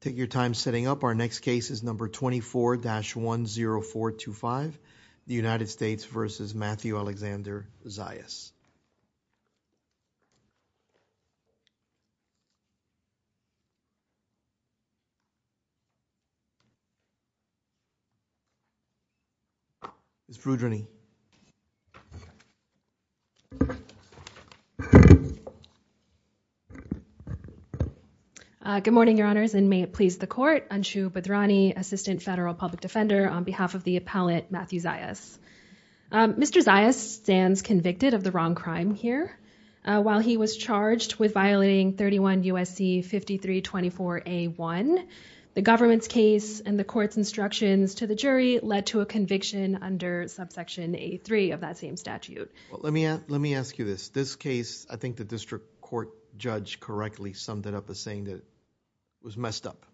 Take your time setting up. Our next case is number 24-10425, the United States v. Matthew Alexander Zayas. Good morning, Your Honors, and may it please the court. Anshu Bhadrani, Assistant Federal Public Defender on behalf of the appellate Matthew Zayas. Mr. Zayas stands convicted of the wrong crime here. While he was charged with violating 31 U.S.C. 5324A1, the government's case and the court's instructions to the jury led to a conviction under subsection A3 of that same statute. Let me ask you this. This case, I think the district court judge correctly summed it up saying that it was messed up.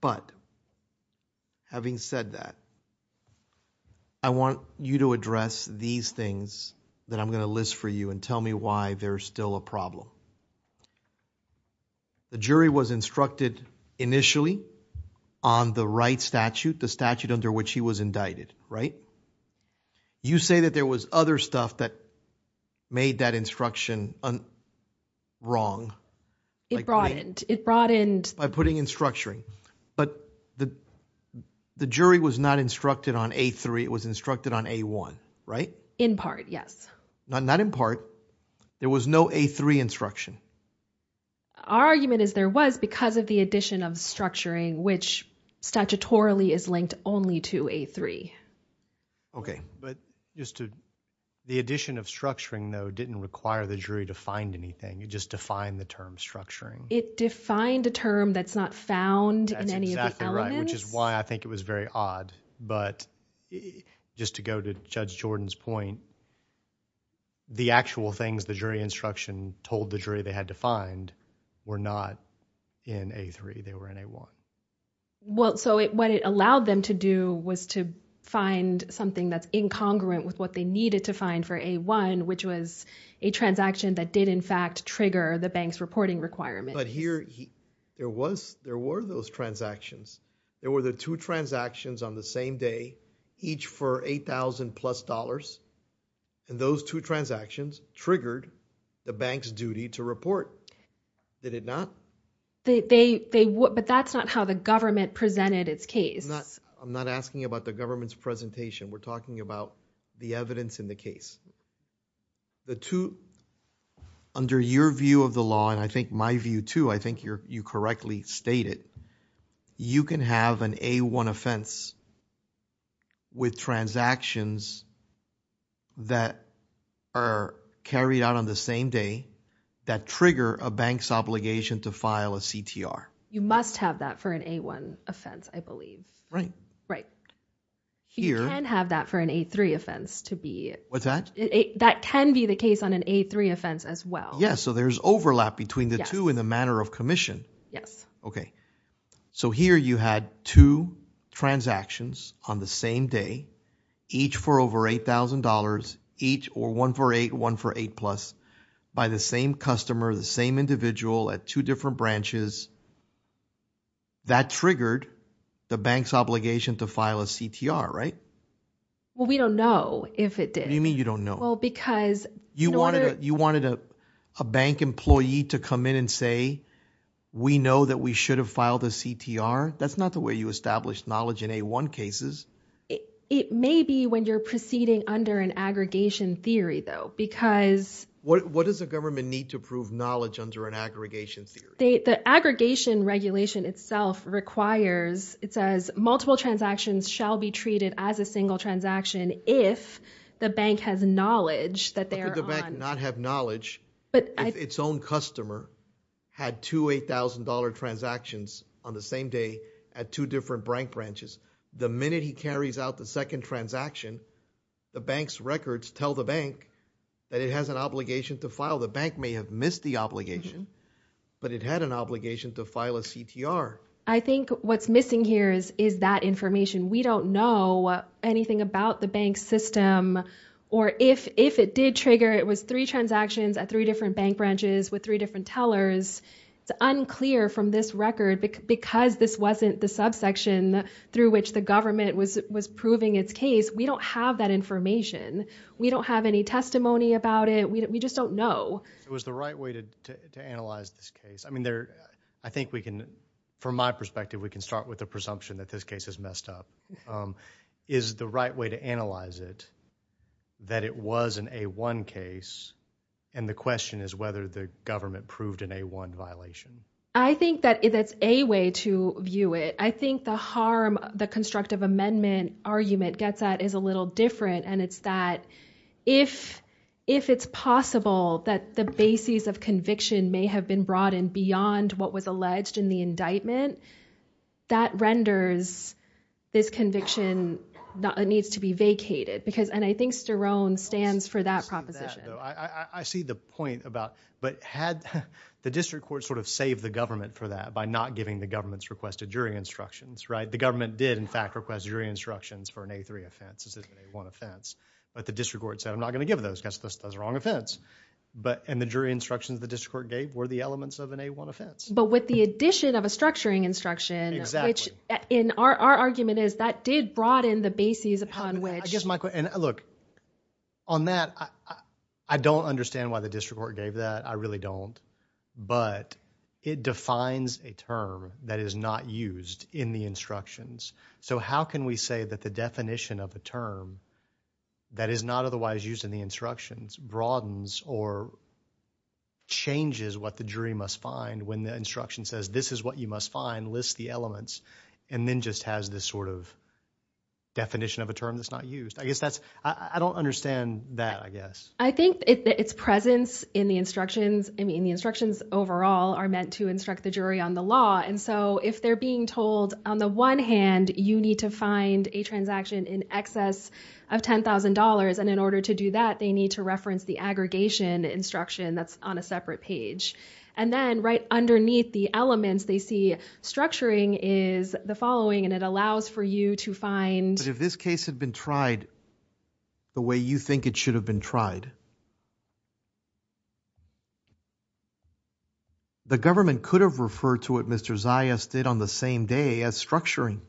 But having said that, I want you to address these things that I'm going to list for you and tell me why they're still a problem. The jury was instructed initially on the right statute, the statute under which he was indicted, right? You say that there was other stuff that made that instruction wrong. It broadened. It broadened by putting in structuring. But the jury was not instructed on A3. It was instructed on A1, right? In part, yes. Not in part. There was no A3 instruction. Our argument is there was because of the addition of structuring, which statutorily is linked only to A3. Okay, but just to the addition of structuring, though, didn't require the jury to find anything. It just defined the term structuring. It defined a term that's not found in any of the elements. That's exactly right, which is why I think it was very odd. But just to go to Judge Jordan's point, the actual things the jury instruction told the jury they had to find were not in A3. They were in A1. Well, so what it allowed them to do was to find something that's incongruent with what they needed to find for A1, which was a transaction that did, in fact, trigger the bank's reporting requirement. But here, there were those transactions. There were the two transactions on the same day, each for $8,000 plus, and those two transactions triggered the bank's duty to report. Did it not? But that's not how the government presented its case. I'm not asking about the government's presentation. We're talking about the evidence in the case. Under your view of the law, and I think my view, too, I think you correctly stated, you can have an A1 offense with transactions that are carried out on the same day that trigger a bank's obligation to file a CTR. You must have that for an A1 offense, I believe. Right. Right. You can have that for an A3 offense to be... What's that? That can be the case on an A3 offense as well. Yeah, so there's overlap between the two in the commission. Yes. Okay. So here, you had two transactions on the same day, each for over $8,000, each or one for A1 for A plus by the same customer, the same individual at two different branches. That triggered the bank's obligation to file a CTR, right? Well, we don't know if it did. You mean you don't know? Well, because... You wanted a bank employee to come in and say, we know that we should have filed a CTR? That's not the way you establish knowledge in A1 cases. It may be when you're proceeding under an aggregation theory, though, because... What does the government need to prove knowledge under an aggregation theory? The aggregation regulation itself requires, it says, multiple transactions shall be treated as a single transaction if the bank has knowledge that they are on... $2,000, $8,000 transactions on the same day at two different bank branches. The minute he carries out the second transaction, the bank's records tell the bank that it has an obligation to file. The bank may have missed the obligation, but it had an obligation to file a CTR. I think what's missing here is that information. We don't know anything about the bank's system or if it did trigger, it was three transactions at three different bank branches with three tellers. It's unclear from this record, because this wasn't the subsection through which the government was proving its case, we don't have that information. We don't have any testimony about it. We just don't know. It was the right way to analyze this case. I think we can, from my perspective, we can start with the presumption that this case is messed up. Is the right way to analyze it that it was an A1 case and the question is whether the government proved an A1 violation? I think that's a way to view it. I think the harm the constructive amendment argument gets at is a little different. It's that if it's possible that the basis of conviction may have been broadened beyond what was alleged in the indictment, that renders this conviction that needs to be vacated. I think Sterone stands for that though. I see the point about, but had the district court sort of saved the government for that by not giving the government's requested jury instructions, right? The government did, in fact, request jury instructions for an A3 offense. This isn't an A1 offense, but the district court said I'm not going to give those because that's the wrong offense. And the jury instructions the district court gave were the elements of an A1 offense. But with the addition of a structuring instruction, which in our argument is that did the basis upon which. I guess my question, look, on that, I don't understand why the district court gave that. I really don't. But it defines a term that is not used in the instructions. So how can we say that the definition of the term that is not otherwise used in the instructions broadens or changes what the jury must find when the instruction says this is what you must find, lists the elements, and then just has this sort of definition of a term that's not used. I guess that's, I don't understand that, I guess. I think it's presence in the instructions. I mean, the instructions overall are meant to instruct the jury on the law. And so if they're being told on the one hand, you need to find a transaction in excess of $10,000. And in order to do that, they need to reference the aggregation instruction that's on a separate page. And then right underneath the elements, they see structuring is the following. And it allows for you to find. But if this case had been tried the way you think it should have been tried, the government could have referred to it, Mr. Zayas did on the same day as structuring.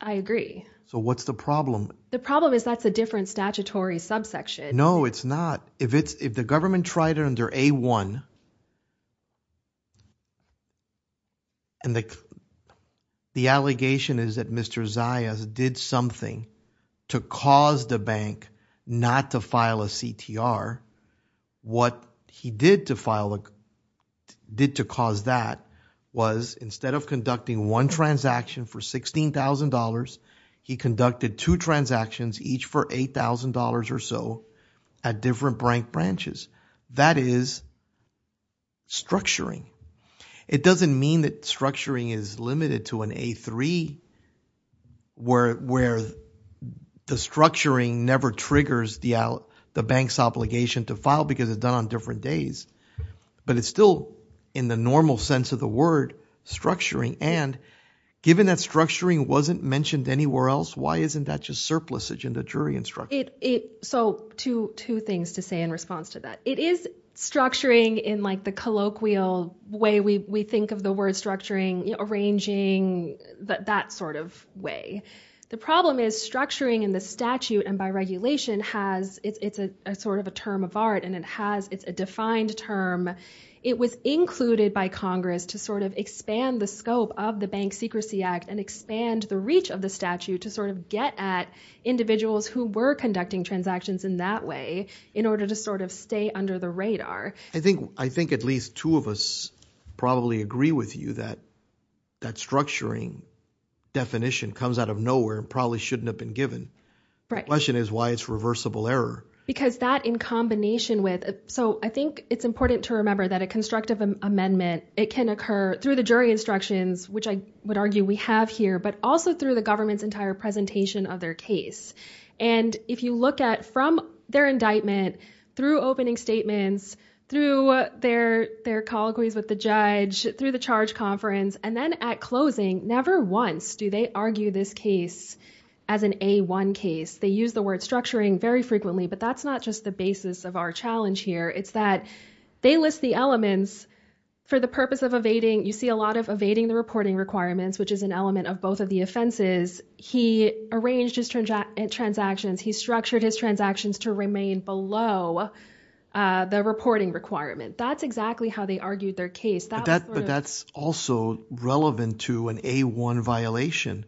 I agree. So what's the problem? The problem is that's a different statutory subsection. No, it's not. If the government tried it under A1, and the allegation is that Mr. Zayas did something to cause the bank not to file a CTR, what he did to cause that was instead of conducting one transaction for $16,000, he conducted two transactions, each for $8,000 or so at different branches. That is structuring. It doesn't mean that structuring is limited to an A3 where the structuring never triggers the bank's obligation to file because it's done on different days. But it's still in the normal sense of the word structuring. And given that structuring wasn't mentioned anywhere else, why isn't that just surplusage in the jury instruction? So two things to say in response to that. It is structuring in like the colloquial way we think of the word structuring, arranging, that sort of way. The problem is structuring in the statute and by regulation has, it's a sort of a term of art and it has, it's a defined term. It was included by Congress to sort of expand the scope of the Bank Secrecy Act and expand the reach of the statute to sort of get at individuals who were conducting transactions in that way in order to sort of stay under the radar. I think at least two of us probably agree with you that that structuring definition comes out of nowhere and probably shouldn't have been given. Right. The question is why it's reversible error. Because that in combination with, so I it's important to remember that a constructive amendment, it can occur through the jury instructions, which I would argue we have here, but also through the government's entire presentation of their case. And if you look at from their indictment, through opening statements, through their colloquies with the judge, through the charge conference, and then at closing, never once do they argue this case as an A1 case. They use the word structuring very frequently, but that's not just the basis of our challenge here. It's that they list the elements for the purpose of evading. You see a lot of evading the reporting requirements, which is an element of both of the offenses. He arranged his transactions. He structured his transactions to remain below the reporting requirement. That's exactly how they argued their case. But that's also relevant to an A1 violation.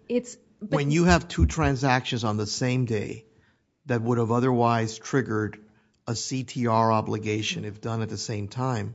When you have two transactions on the same day that would have otherwise triggered a CTR obligation, if done at the same time,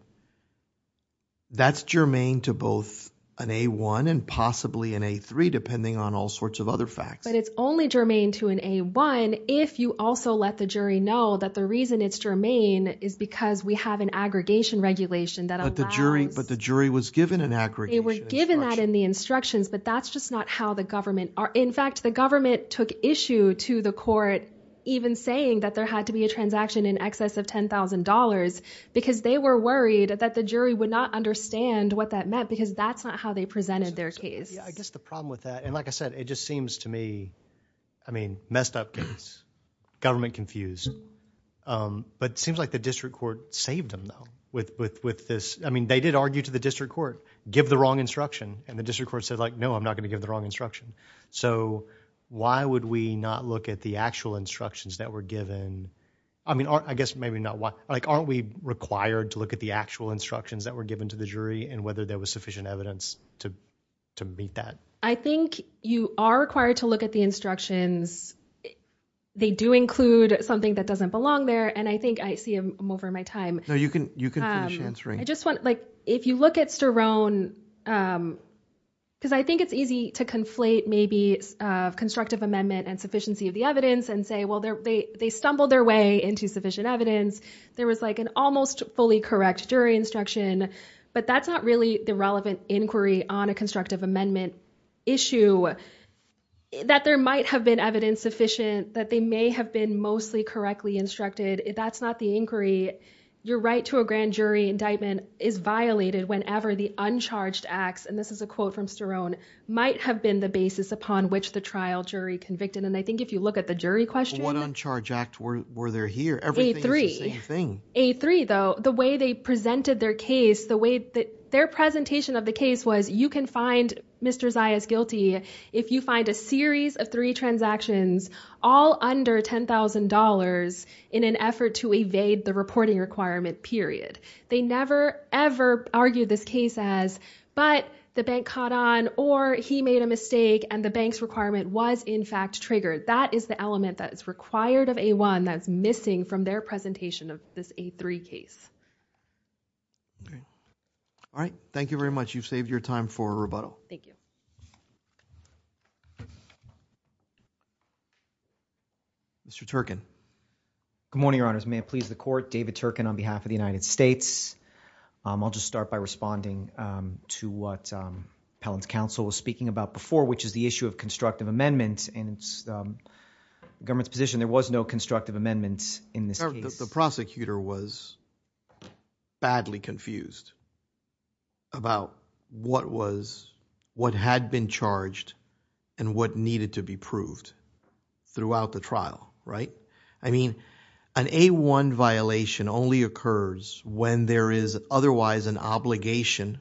that's germane to both an A1 and possibly an A3, depending on all sorts of other facts. But it's only germane to an A1 if you also let the jury know that the reason it's germane is because we have an aggregation regulation that allows- But the jury was given an aggregation instruction. They were given that in the instructions, but that's just not how the government, in fact, the government took issue to the court even saying that there had to be a transaction in excess of $10,000 because they were worried that the jury would not understand what that meant because that's not how they presented their case. Yeah, I guess the problem with that, and like I said, it just seems to me, I mean, messed up case. Government confused. But it seems like the district court saved them, though, with this. I mean, they did argue to the district court, give the wrong instruction, and the district court said, like, no, I'm not going to give the wrong instruction. So why would we not look at the actual instructions that were given? I mean, I guess maybe not why, like, aren't we required to look at the actual instructions that were given to the jury and whether there was sufficient evidence to meet that? I think you are required to look at the instructions. They do include something that doesn't belong there, and I think I see I'm over my time. No, you can finish answering. If you look at Sterone, because I think it's easy to conflate maybe constructive amendment and sufficiency of the evidence and say, well, they stumbled their way into sufficient evidence. There was like an almost fully correct jury instruction, but that's not really the relevant inquiry on a constructive amendment issue that there might have been evidence sufficient, that they may have been mostly correctly instructed. That's not the inquiry. Your right to a grand jury indictment is violated whenever the uncharged acts, and this is a quote from Sterone, might have been the basis upon which the trial jury convicted. And I think if you look at the jury question. What uncharged act were there here? A3, though, the way they presented their case, the way that their presentation of the case was, you can find Mr. Zayas guilty if you find a series of three transactions all under $10,000 in an effort to evade the reporting requirement period. They never, ever argued this case as, but the bank caught on, or he made a mistake, and the bank's requirement was, in fact, triggered. That is the element that is required of A1 that's missing from their presentation of this A3 case. Okay. All right. Thank you very much. You've saved your time for rebuttal. Thank you. Mr. Turkin. Good morning, Your Honors. May it please the court. David Turkin on behalf of the United States. I'll just start by responding to what Appellant's counsel was speaking about before, which is the issue of constructive amendments, and it's the government's position there was no constructive amendments in this case. The prosecutor was badly confused about what was, what had been charged, and what needed to be proved throughout the trial, right? I mean, an A1 violation only occurs when there is otherwise an obligation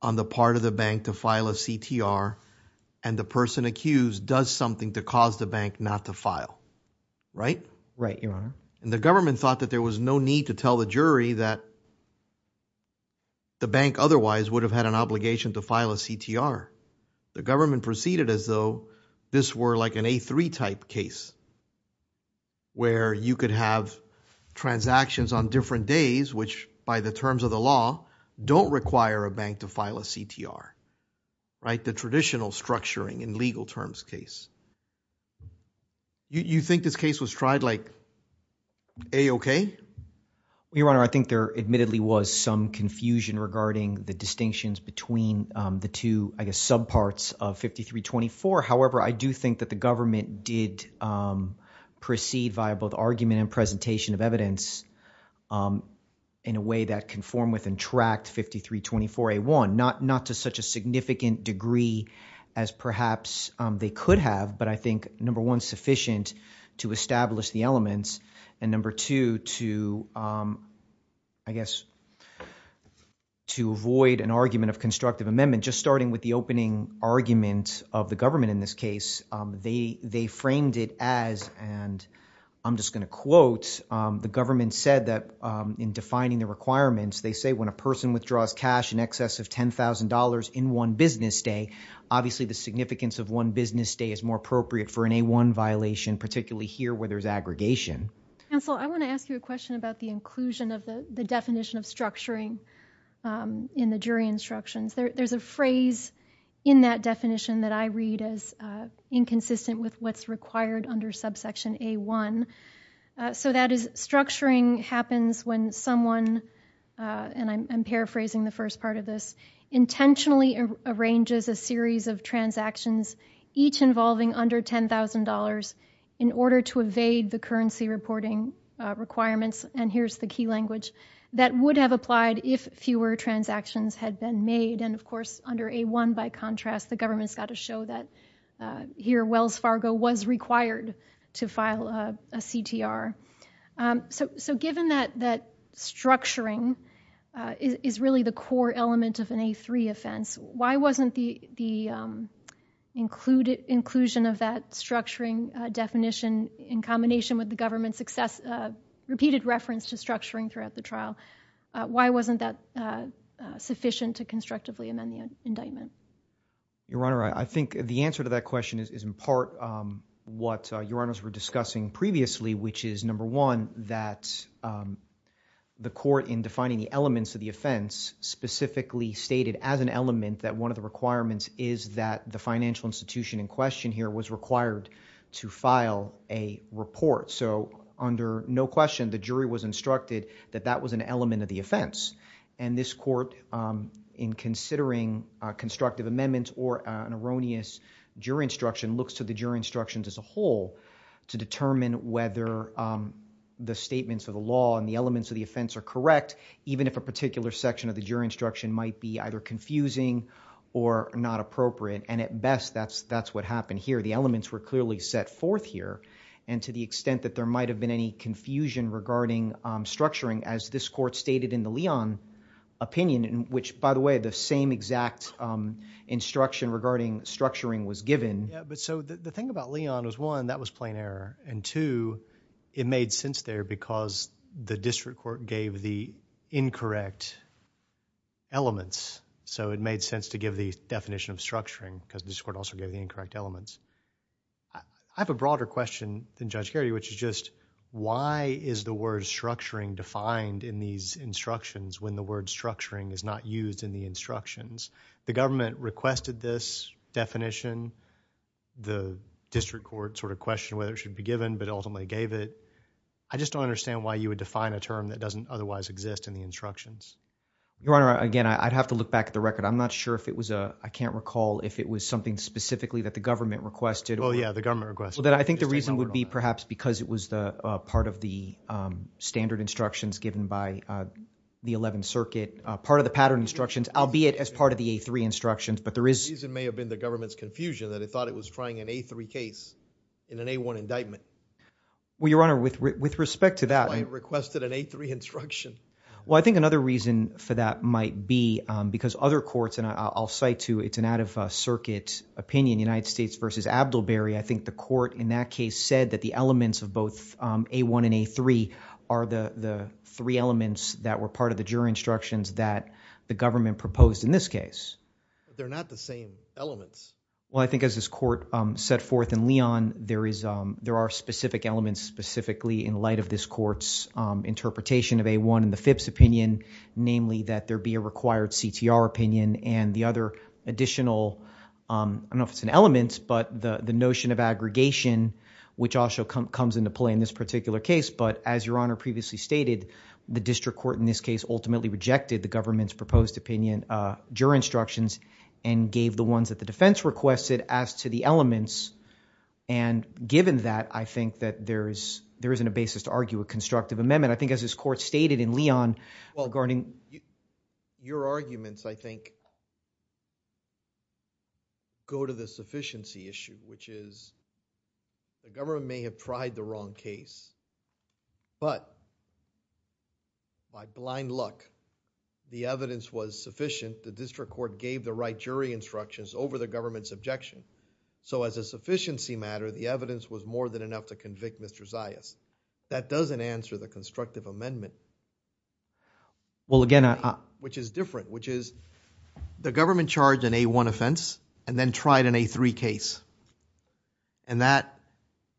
on the part of the bank to file a CTR, and the person accused does something to cause the bank not to file, right? Right, Your Honor. And the government thought that there was no need to tell the jury that the bank otherwise would have had an obligation to file a CTR. The government proceeded as though this were like an A3 type case, where you could have transactions on different days, which by the terms of the law don't require a bank to file a CTR, right, the traditional structuring in legal terms case. Do you think this case was tried like A-OK? Well, Your Honor, I think there admittedly was some confusion regarding the distinctions between the two, I guess, subparts of 53-24. However, I do think that the government did proceed via both argument and presentation of evidence in a way that conformed with and tracked 53-24-A1, not to such a significant degree as perhaps they could have, but I think, number one, sufficient to establish the elements, and number two, to, I guess, to avoid an argument of constructive amendment. Just starting with the opening argument of the government in this case, they framed it as, and I'm just going to quote, the government said that in defining the requirements, they say when a person withdraws cash in excess of $10,000 in one business day, obviously the significance of one business day is more appropriate for an A-1 violation, particularly here where there's aggregation. Counsel, I want to ask you a question about the inclusion of the definition of structuring in the jury instructions. There's a phrase in that definition that I read as inconsistent with what's required under subsection A-1. So that is, structuring happens when someone, and I'm paraphrasing the first part of this, intentionally arranges a series of transactions, each involving under $10,000, in order to evade the currency reporting requirements, and here's the key language, that would have applied if fewer transactions had been made, and of course, under A-1, by contrast, the government's got to show that here, Wells Fargo was required to file a CTR. So given that structuring is really the core element of an A-3 offense, why wasn't the inclusion of that structuring definition in combination with the government's repeated reference to structuring throughout the trial, why wasn't that sufficient to constructively amend the indictment? Your Honor, I think the answer to that question is in part what Your Honors were discussing previously, which is number one, that the court in defining the elements of the offense specifically stated as an element that one of the requirements is that the financial institution in question here was required to file a report. So under no question, the jury was instructed that that was an element of the offense, and this court in considering constructive amendments or an erroneous jury instruction looks to the jury instructions as a whole to determine whether the statements of the law and the elements of the offense are correct, even if a particular section of the jury instruction might be either confusing or not appropriate, and at best, that's what happened here. The elements were clearly set forth here, and to the extent that there might have been any confusion regarding structuring as this court stated in the Leon opinion, which by the way, the same exact instruction regarding structuring was given. Yeah, but so the thing about Leon was one, that was plain error, and two, it made sense there because the district court gave the incorrect elements. So it made sense to give the definition of structuring because this court also gave the incorrect elements. I have a broader question than Judge Geraghty, which is just why is the word structuring defined in these instructions when the word structuring is not used in the instructions? The government requested this definition. The district court sort of questioned whether it should be given, but ultimately gave it. I just don't understand why you would define a term that doesn't otherwise exist in the instructions. Your Honor, again, I'd have to look back at the record. I'm not sure if it was, I can't recall if it was something specifically that the government requested. Well, yeah, the government requested. I think the reason would be perhaps because it was part of the standard instructions given by the 11th Circuit, part of the pattern instructions, albeit as part of the A3 instructions, but there is- The reason may have been the government's confusion that it thought it was trying an A3 case in an A1 indictment. Well, Your Honor, with respect to that- Why it requested an A3 instruction. Well, I think another reason for that might be because other courts, and I'll cite two, it's an out-of-circuit opinion, United States versus Abdelberry. I think the court in that case said that the elements of both A1 and A3 are the three elements that were part of the jury instructions that the government proposed in this case. They're not the same elements. Well, I think as this court set forth in Leon, there are specific elements specifically in light of this court's interpretation of A1 in the FIPS opinion, namely that there be a required CTR opinion and the other additional, I don't know if it's an element, but the notion of aggregation, which also comes into play in this particular case. But as Your Honor previously stated, the district court in this case ultimately rejected the government's proposed opinion, jury instructions, and gave the ones that the defense requested as to the elements. And given that, I think that there is, there isn't a basis to argue a constructive amendment. I think as this court stated in Leon regarding- Your arguments, I think, go to the sufficiency issue, which is the government may have tried the wrong case, but by blind luck, the evidence was sufficient. The district court gave the right jury instructions over the government's objection. So as a sufficiency matter, the evidence was more than enough to convict Mr. Zayas. That doesn't answer the constructive amendment, which is different, which is the government charged an A1 offense and then tried an A3 case. And that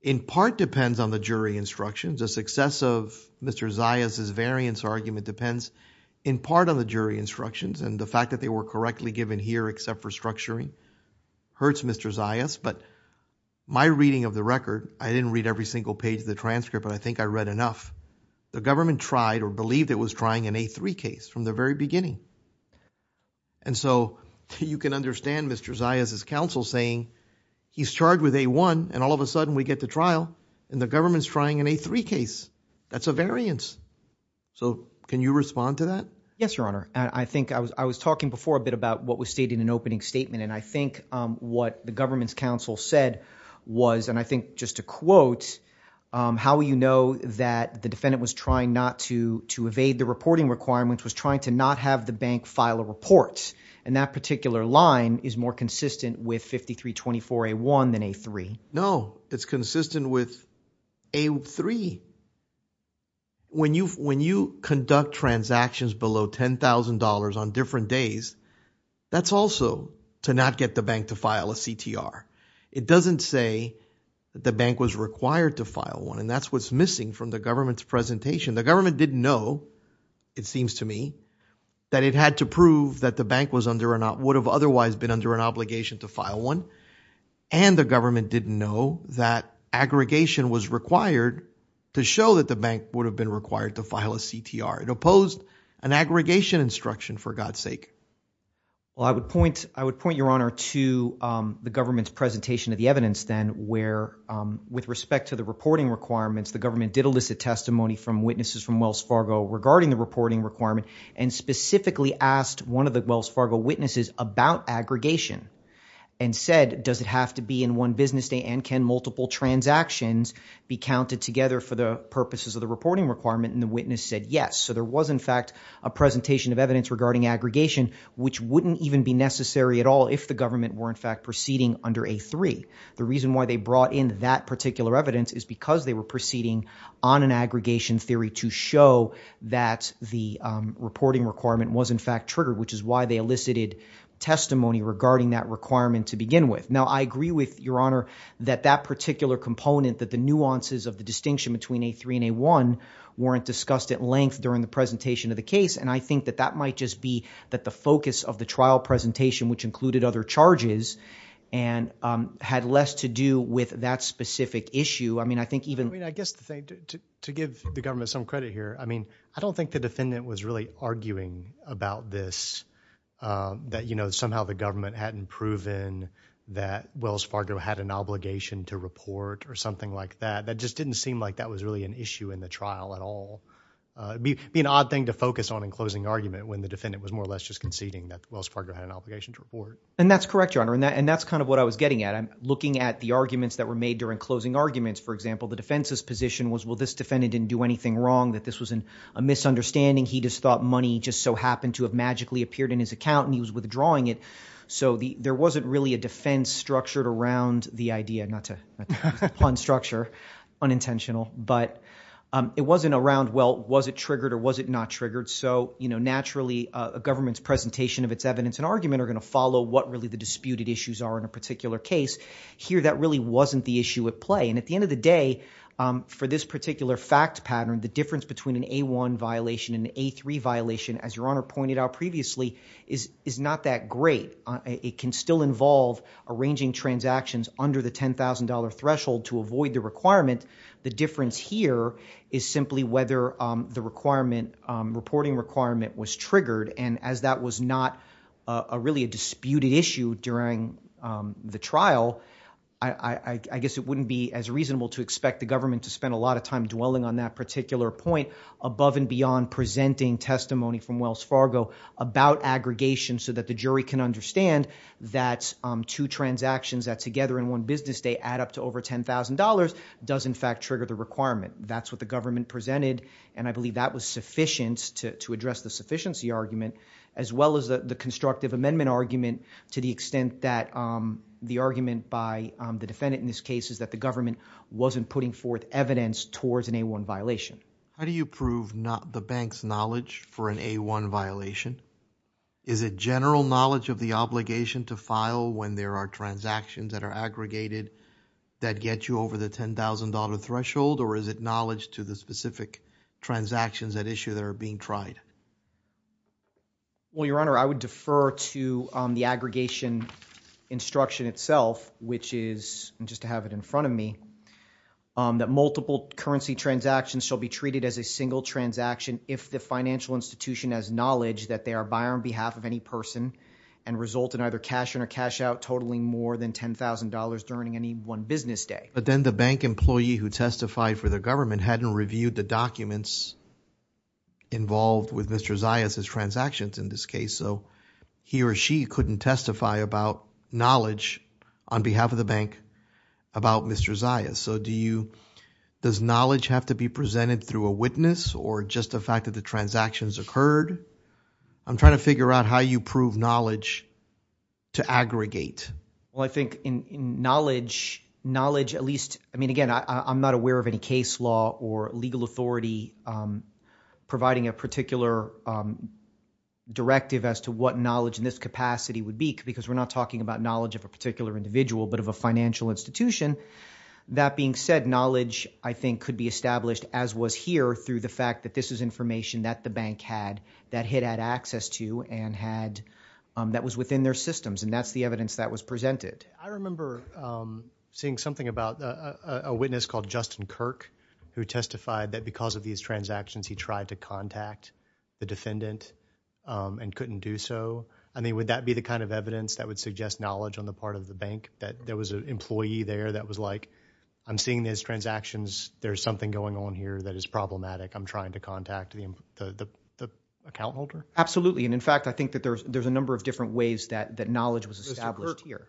in part depends on the jury instructions. The success of Mr. Zayas' variance argument depends in part on the jury instructions. And the fact that they were correctly given here, except for structuring, hurts Mr. Zayas. But my reading of the record, I didn't read every single page of the transcript, but I think I read enough. The government tried or believed it was trying an A3 case from the very beginning. And so you can understand Mr. Zayas' counsel saying, he's charged with A1, and all of a sudden we get to trial and the government's trying an A3 case. That's a variance. So can you respond to that? Yes, your honor. I think I was talking before a bit about what was stated in an opening statement. And I think what the government's counsel said was, and I think just to quote, how will you know that the defendant was trying not to evade the reporting requirements, was trying to not have the bank file a report. And that particular line is more consistent with 5324A1 than A3. No, it's consistent with A3. When you conduct transactions below $10,000 on different days, that's also to not get the bank to file a CTR. It doesn't say that the bank was required to file one. And that's what's missing from the government's presentation. The government didn't know, it seems to me, that it had to prove that the bank would have otherwise been under an obligation to file one. And the government didn't know that aggregation was required to show that the bank would have been required to file a CTR. It opposed an aggregation instruction for God's sake. Well, I would point your honor to the government's presentation of the evidence then where with respect to the reporting requirements, the government did elicit testimony from witnesses from Wells Fargo regarding the reporting requirement and specifically asked one of the Wells Fargo witnesses about aggregation and said, does it have to be in one business day and can multiple transactions be counted together for the purposes of the reporting requirement? And the witness said, yes. So there was in fact a presentation of evidence regarding aggregation, which wouldn't even be necessary at all if the government were in fact proceeding under A3. The reason why they brought in that particular evidence is because they were proceeding on an aggregation theory to show that the reporting requirement was in fact triggered, which is why they elicited testimony regarding that requirement to begin with. Now, I agree with your honor that that particular component, that the nuances of the distinction between A3 and A1 weren't discussed at length during the presentation of the case. And I think that that might just be that the focus of the trial presentation, which included other charges and had less to do with that specific issue. I mean, I guess the thing, to give the government some credit here, I mean, I don't think the defendant was really arguing about this, that somehow the government hadn't proven that Wells Fargo had an obligation to report or something like that. That just didn't seem like that was really an issue in the trial at all. It'd be an odd thing to focus on in closing argument when the defendant was more or less just conceding that Wells Fargo had an obligation to report. And that's correct, your honor. And that's kind of what I was getting at. I'm looking at the arguments that were made during closing arguments for example, the defense's position was, well, this defendant didn't do anything wrong, that this was a misunderstanding. He just thought money just so happened to have magically appeared in his account and he was withdrawing it. So there wasn't really a defense structured around the idea, not to pun structure, unintentional, but it wasn't around, well, was it triggered or was it not triggered? So naturally a government's presentation of its evidence and argument are gonna follow what really the disputed issues are in a particular case. Here, that really wasn't the issue at play. And at the end of the day, for this particular fact pattern, the difference between an A1 violation and an A3 violation, as your honor pointed out previously, is not that great. It can still involve arranging transactions under the $10,000 threshold to avoid the requirement. The difference here is simply whether the requirement, reporting requirement was triggered. And as that was not really a disputed issue during the trial, I guess it wouldn't be as reasonable to expect the government to spend a lot of time dwelling on that particular point above and beyond presenting testimony from Wells Fargo about aggregation so that the jury can understand that two transactions that together in one business day add up to over $10,000 does in fact trigger the requirement. That's what the government presented. And I believe that was sufficient to address the sufficiency argument, as well as the constructive amendment argument to the extent that the argument by the defendant in this case is that the government wasn't putting forth evidence towards an A1 violation. How do you prove the bank's knowledge for an A1 violation? Is it general knowledge of the obligation to file when there are transactions that are aggregated that get you over the $10,000 threshold? Or is it knowledge to the specific transactions at issue that are being tried? Well, your honor, I would defer to the aggregation instruction itself, which is just to have it in front of me, that multiple currency transactions shall be treated as a single transaction if the financial institution has knowledge that they are by or on behalf of any person and result in either cash in or cash out totaling more than $10,000 during any one business day. But then the bank employee who testified for the government hadn't reviewed the documents involved with Mr. Zayas' transactions in this case. So he or she couldn't testify about knowledge on behalf of the bank about Mr. Zayas. So do you, does knowledge have to be presented through a witness or just the fact that the transactions occurred? I'm trying to figure out how you prove knowledge to aggregate. Well, I think in knowledge, knowledge at least, I mean, again, I'm not aware of any case law or legal authority providing a particular directive as to what knowledge in this capacity would be because we're not talking about knowledge of a particular individual, but of a financial institution. That being said, knowledge, I think, could be established as was here through the fact that this is information that the bank had that it had access to and that was within their systems. And that's the evidence that was presented. I remember seeing something about a witness called Justin Kirk who testified that because of these transactions, he tried to contact the defendant and couldn't do so. I mean, would that be the kind of evidence that would suggest knowledge on the part of the bank that there was an employee there that was like, I'm seeing these transactions, there's something going on here that is problematic. I'm trying to contact the account holder. And in fact, I think that there's a number of different ways that knowledge was established here.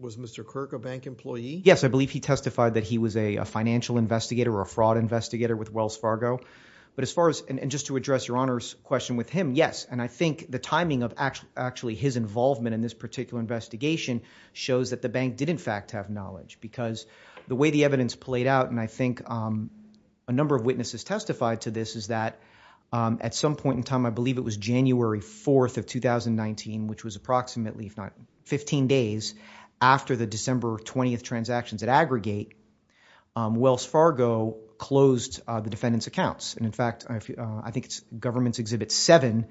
Was Mr. Kirk a bank employee? Yes, I believe he testified that he was a financial investigator or a fraud investigator with Wells Fargo. But as far as and just to address your Honor's question with him, yes, and I think the timing of actually his involvement in this particular investigation shows that the bank did in fact have knowledge because the way the evidence played out and I think a number of witnesses testified to this is that at some point in time, I believe it was January 4th of 2019, which was approximately if not 15 days after the December 20th transactions at Aggregate, Wells Fargo closed the defendant's accounts. And in fact, I think it's Government's Exhibit 7.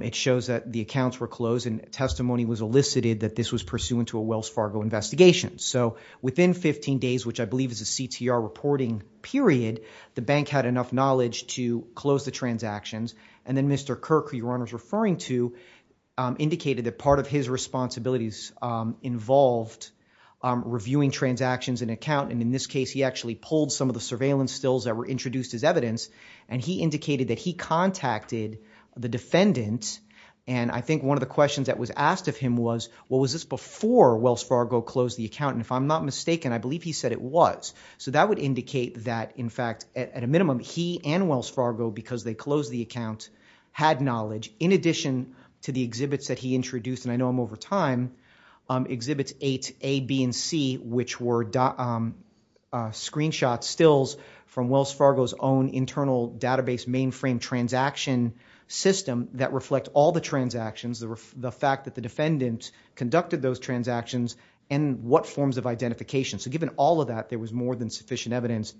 It shows that the accounts were closed and testimony was elicited that this was pursuant to a Wells Fargo investigation. So within 15 days, which I believe is a CTR reporting period, the bank had enough knowledge to close the transactions. And then Mr. Kirk, who your Honor's referring to, indicated that part of his responsibilities involved reviewing transactions and account. And in this case, he actually pulled some of the surveillance stills that were introduced as evidence. And he indicated that he contacted the defendant. And I think one of the questions that was asked of him was, well, was this before Wells Fargo closed the account? And if I'm not mistaken, I believe he said it was. So that would indicate that, in fact, at a minimum, he and Wells Fargo, because they closed the account, had knowledge in addition to the exhibits that he introduced. And I know I'm over time. Exhibits 8, A, B, and C, which were screenshot stills from Wells Fargo's own internal database mainframe transaction system that reflect all the transactions, the fact that the defendant conducted those transactions, and what forms of identification. So given all of that, there was more than sufficient evidence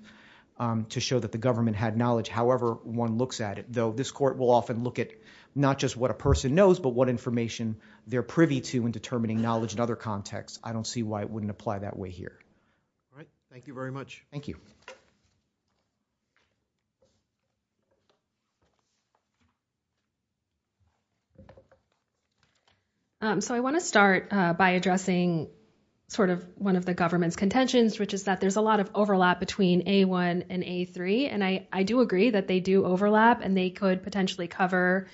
to show that the government had knowledge, however one looks at it. Though this court will often look at not just what a person knows, but what information they're privy to in determining knowledge in other contexts. I don't see why it wouldn't apply that way here. All right. Thank you very much. Thank you. So I want to start by addressing sort of one of the government's contentions, which is that there's a lot of overlap between A1 and A3. And I do agree that they do overlap, and they could potentially cover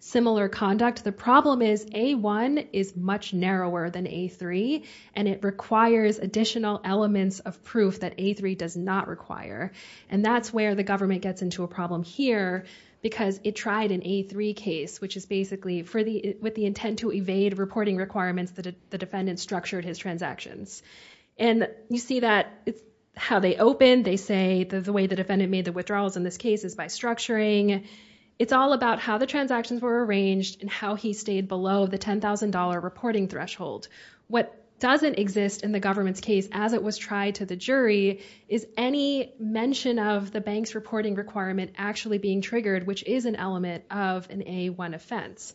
similar conduct. The problem is A1 is much narrower than A3, and it requires additional elements of proof that A3 does not require. And that's where the government gets into a problem here, because it tried an A3 case, which is basically with the intent to evade reporting requirements that the defendant structured his transactions. And you see how they open, they say the way the defendant made the withdrawals in this case is by structuring. It's all about how the transactions were arranged, and how he stayed below the $10,000 reporting threshold. What doesn't exist in the government's case as it was tried to the jury is any mention of the bank's reporting requirement actually being triggered, which is an element of an A1 offense.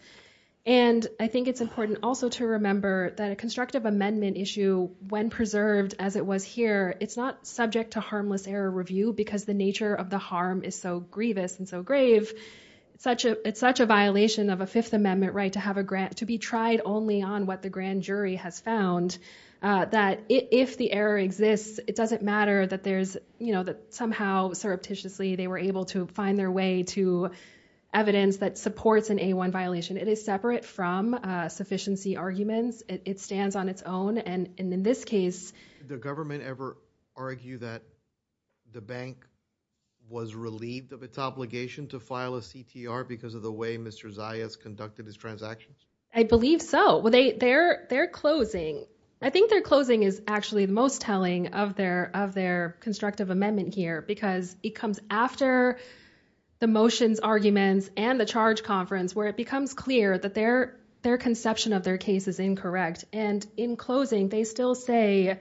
And I think it's important also to remember that a constructive amendment issue, when preserved as it was here, it's not subject to harmless error review because the nature of the harm is so grievous and so grave. It's such a violation of a Fifth Amendment right to be tried only on what the grand jury has found. That if the error exists, it doesn't matter that there's, you know, that somehow surreptitiously they were able to find their way to evidence that supports an A1 violation. It is separate from sufficiency arguments. It stands on its own. And in this case, the government ever argue that the bank was relieved of its obligation to file a CTR because of the way Mr. Zayas conducted his transactions? I believe so. They're closing. I think they're closing is actually the most telling of their constructive amendment here because it comes after the motions arguments and the charge conference where it becomes clear that their conception of their case is incorrect. And in closing, they still say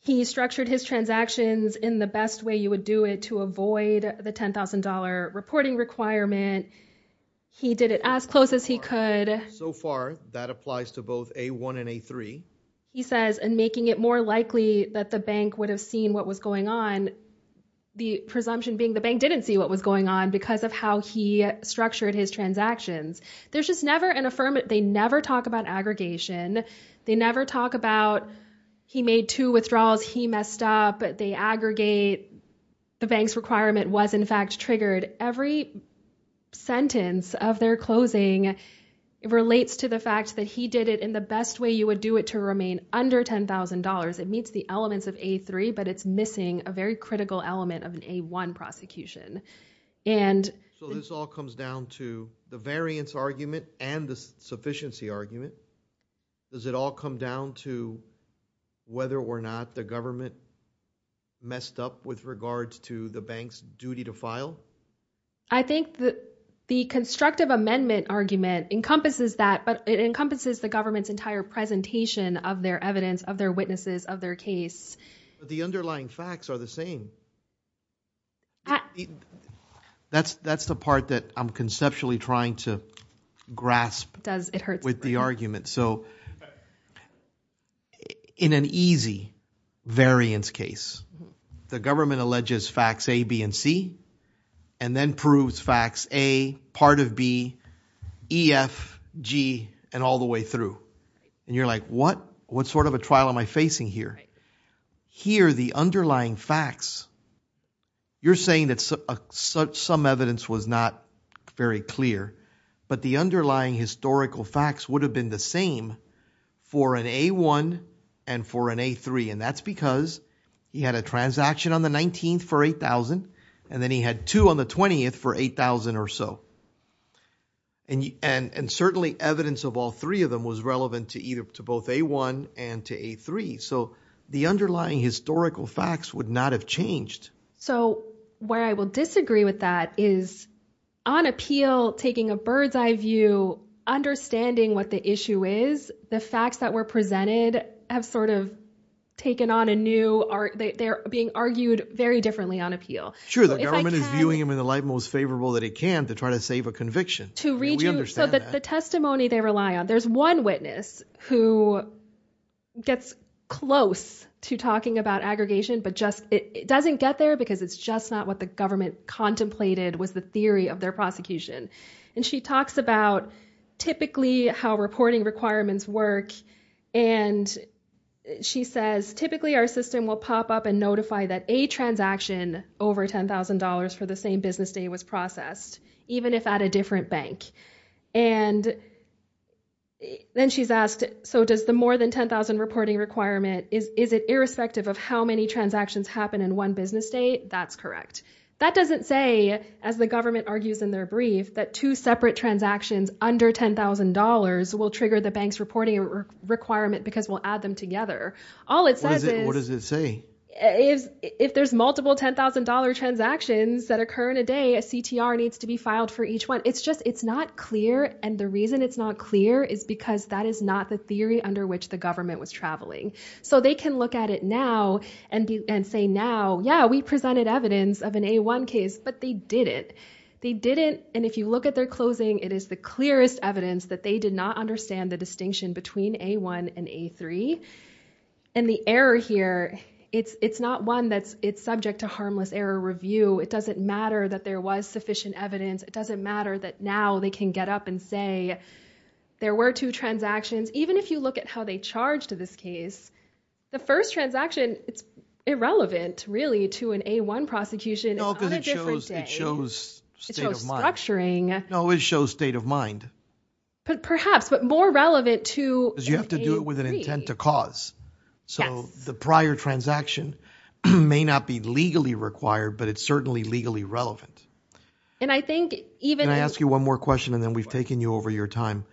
he structured his transactions in the best way you would do it to avoid the $10,000 reporting requirement. He did it as close as he could. So far, that applies to both A1 and A3. He says, and making it more likely that the bank would have seen what was going on, the presumption being the bank didn't see what was going on because of how he structured his transactions. There's just never an affirmative. They never talk about aggregation. They never talk about he made two withdrawals. He messed up. They aggregate. The bank's requirement was in fact triggered. Every sentence of their closing relates to the fact that he did it in the best way you would do it to remain under $10,000. It meets the elements of A3, but it's missing a very critical element of an A1 prosecution. And so this all comes down to the variance argument and the sufficiency argument. Does it all come down to whether or not the government messed up with regards to the bank's duty to file? I think that the constructive amendment argument encompasses that, but it encompasses the government's entire presentation of their evidence, of their witnesses, of their case. The underlying facts are the same. That's the part that I'm conceptually trying to grasp with the argument. So in an easy variance case, the government alleges facts A, B, and C, and then proves facts A, part of B, E, F, G, and all the way through. And you're like, what? What sort of a trial am I facing here? Here, the underlying facts, you're saying that some evidence was not very clear, but the underlying historical facts would have been the same for an A1 and for an A3. And that's because he had a transaction on the 19th for $8,000, and then he had two on the 20th for $8,000 or so. And certainly evidence of all three of them was relevant to either to both A1 and to A3. So the underlying historical facts would not have changed. So where I will disagree with that is on appeal, taking a bird's eye view, understanding what the issue is, the facts that were presented have sort of taken on a new art. They're being argued very differently on appeal. Sure, the government is viewing them in the light most favorable that it can to try to save a conviction. So the testimony they rely on, there's one witness who gets close to talking about aggregation, but it doesn't get there because it's just not what the government contemplated was the theory of their prosecution. And she talks about typically how reporting requirements work. And she says, typically, our system will pop up and notify that a transaction over $10,000 for the same business day was processed, even if at a different bank. And then she's asked, so does the more than 10,000 reporting requirement, is it irrespective of how many transactions happen in one business day? That's correct. That doesn't say, as the government argues in their brief, that two separate transactions under $10,000 will trigger the bank's reporting requirement because we'll add them together. All it says is- What does it say? If there's multiple $10,000 transactions that occur in a day, a CTR needs to be filed for each one. It's just, it's not clear. And the reason it's not clear is because that is not the theory under which the government was traveling. So they can look at it now and say, now, yeah, we presented evidence of an A1 case, but they didn't. They didn't. And if you look at their closing, it is the clearest evidence that they did not understand the distinction between A1 and A3. And the error here, it's not one that's, it's subject to harmless error review. It doesn't matter that there was sufficient evidence. It doesn't matter that now they can get up and say, there were two transactions. Even if you look at how they charged to this case, the first transaction, it's irrelevant really to an A1 prosecution. It's not a different day. It shows state of mind. No, it shows state of mind. Perhaps, but more relevant to- You have to do it with an intent to cause. So the prior transaction may not be legally required, but it's certainly legally relevant. And I think even- Can I ask you one more question and then we've taken you over your time.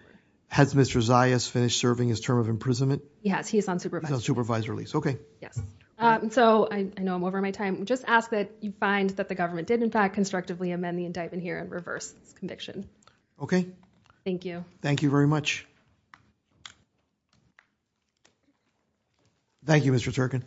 Has Mr. Zayas finished serving his term of imprisonment? He has. He's on supervisory. He's on supervisory. Okay. Yes. So I know I'm over my time. Just ask that you find that the government did in fact constructively amend the indictment here and reverse his conviction. Okay. Thank you. Thank you very much. Thank you, Mr. Turkin.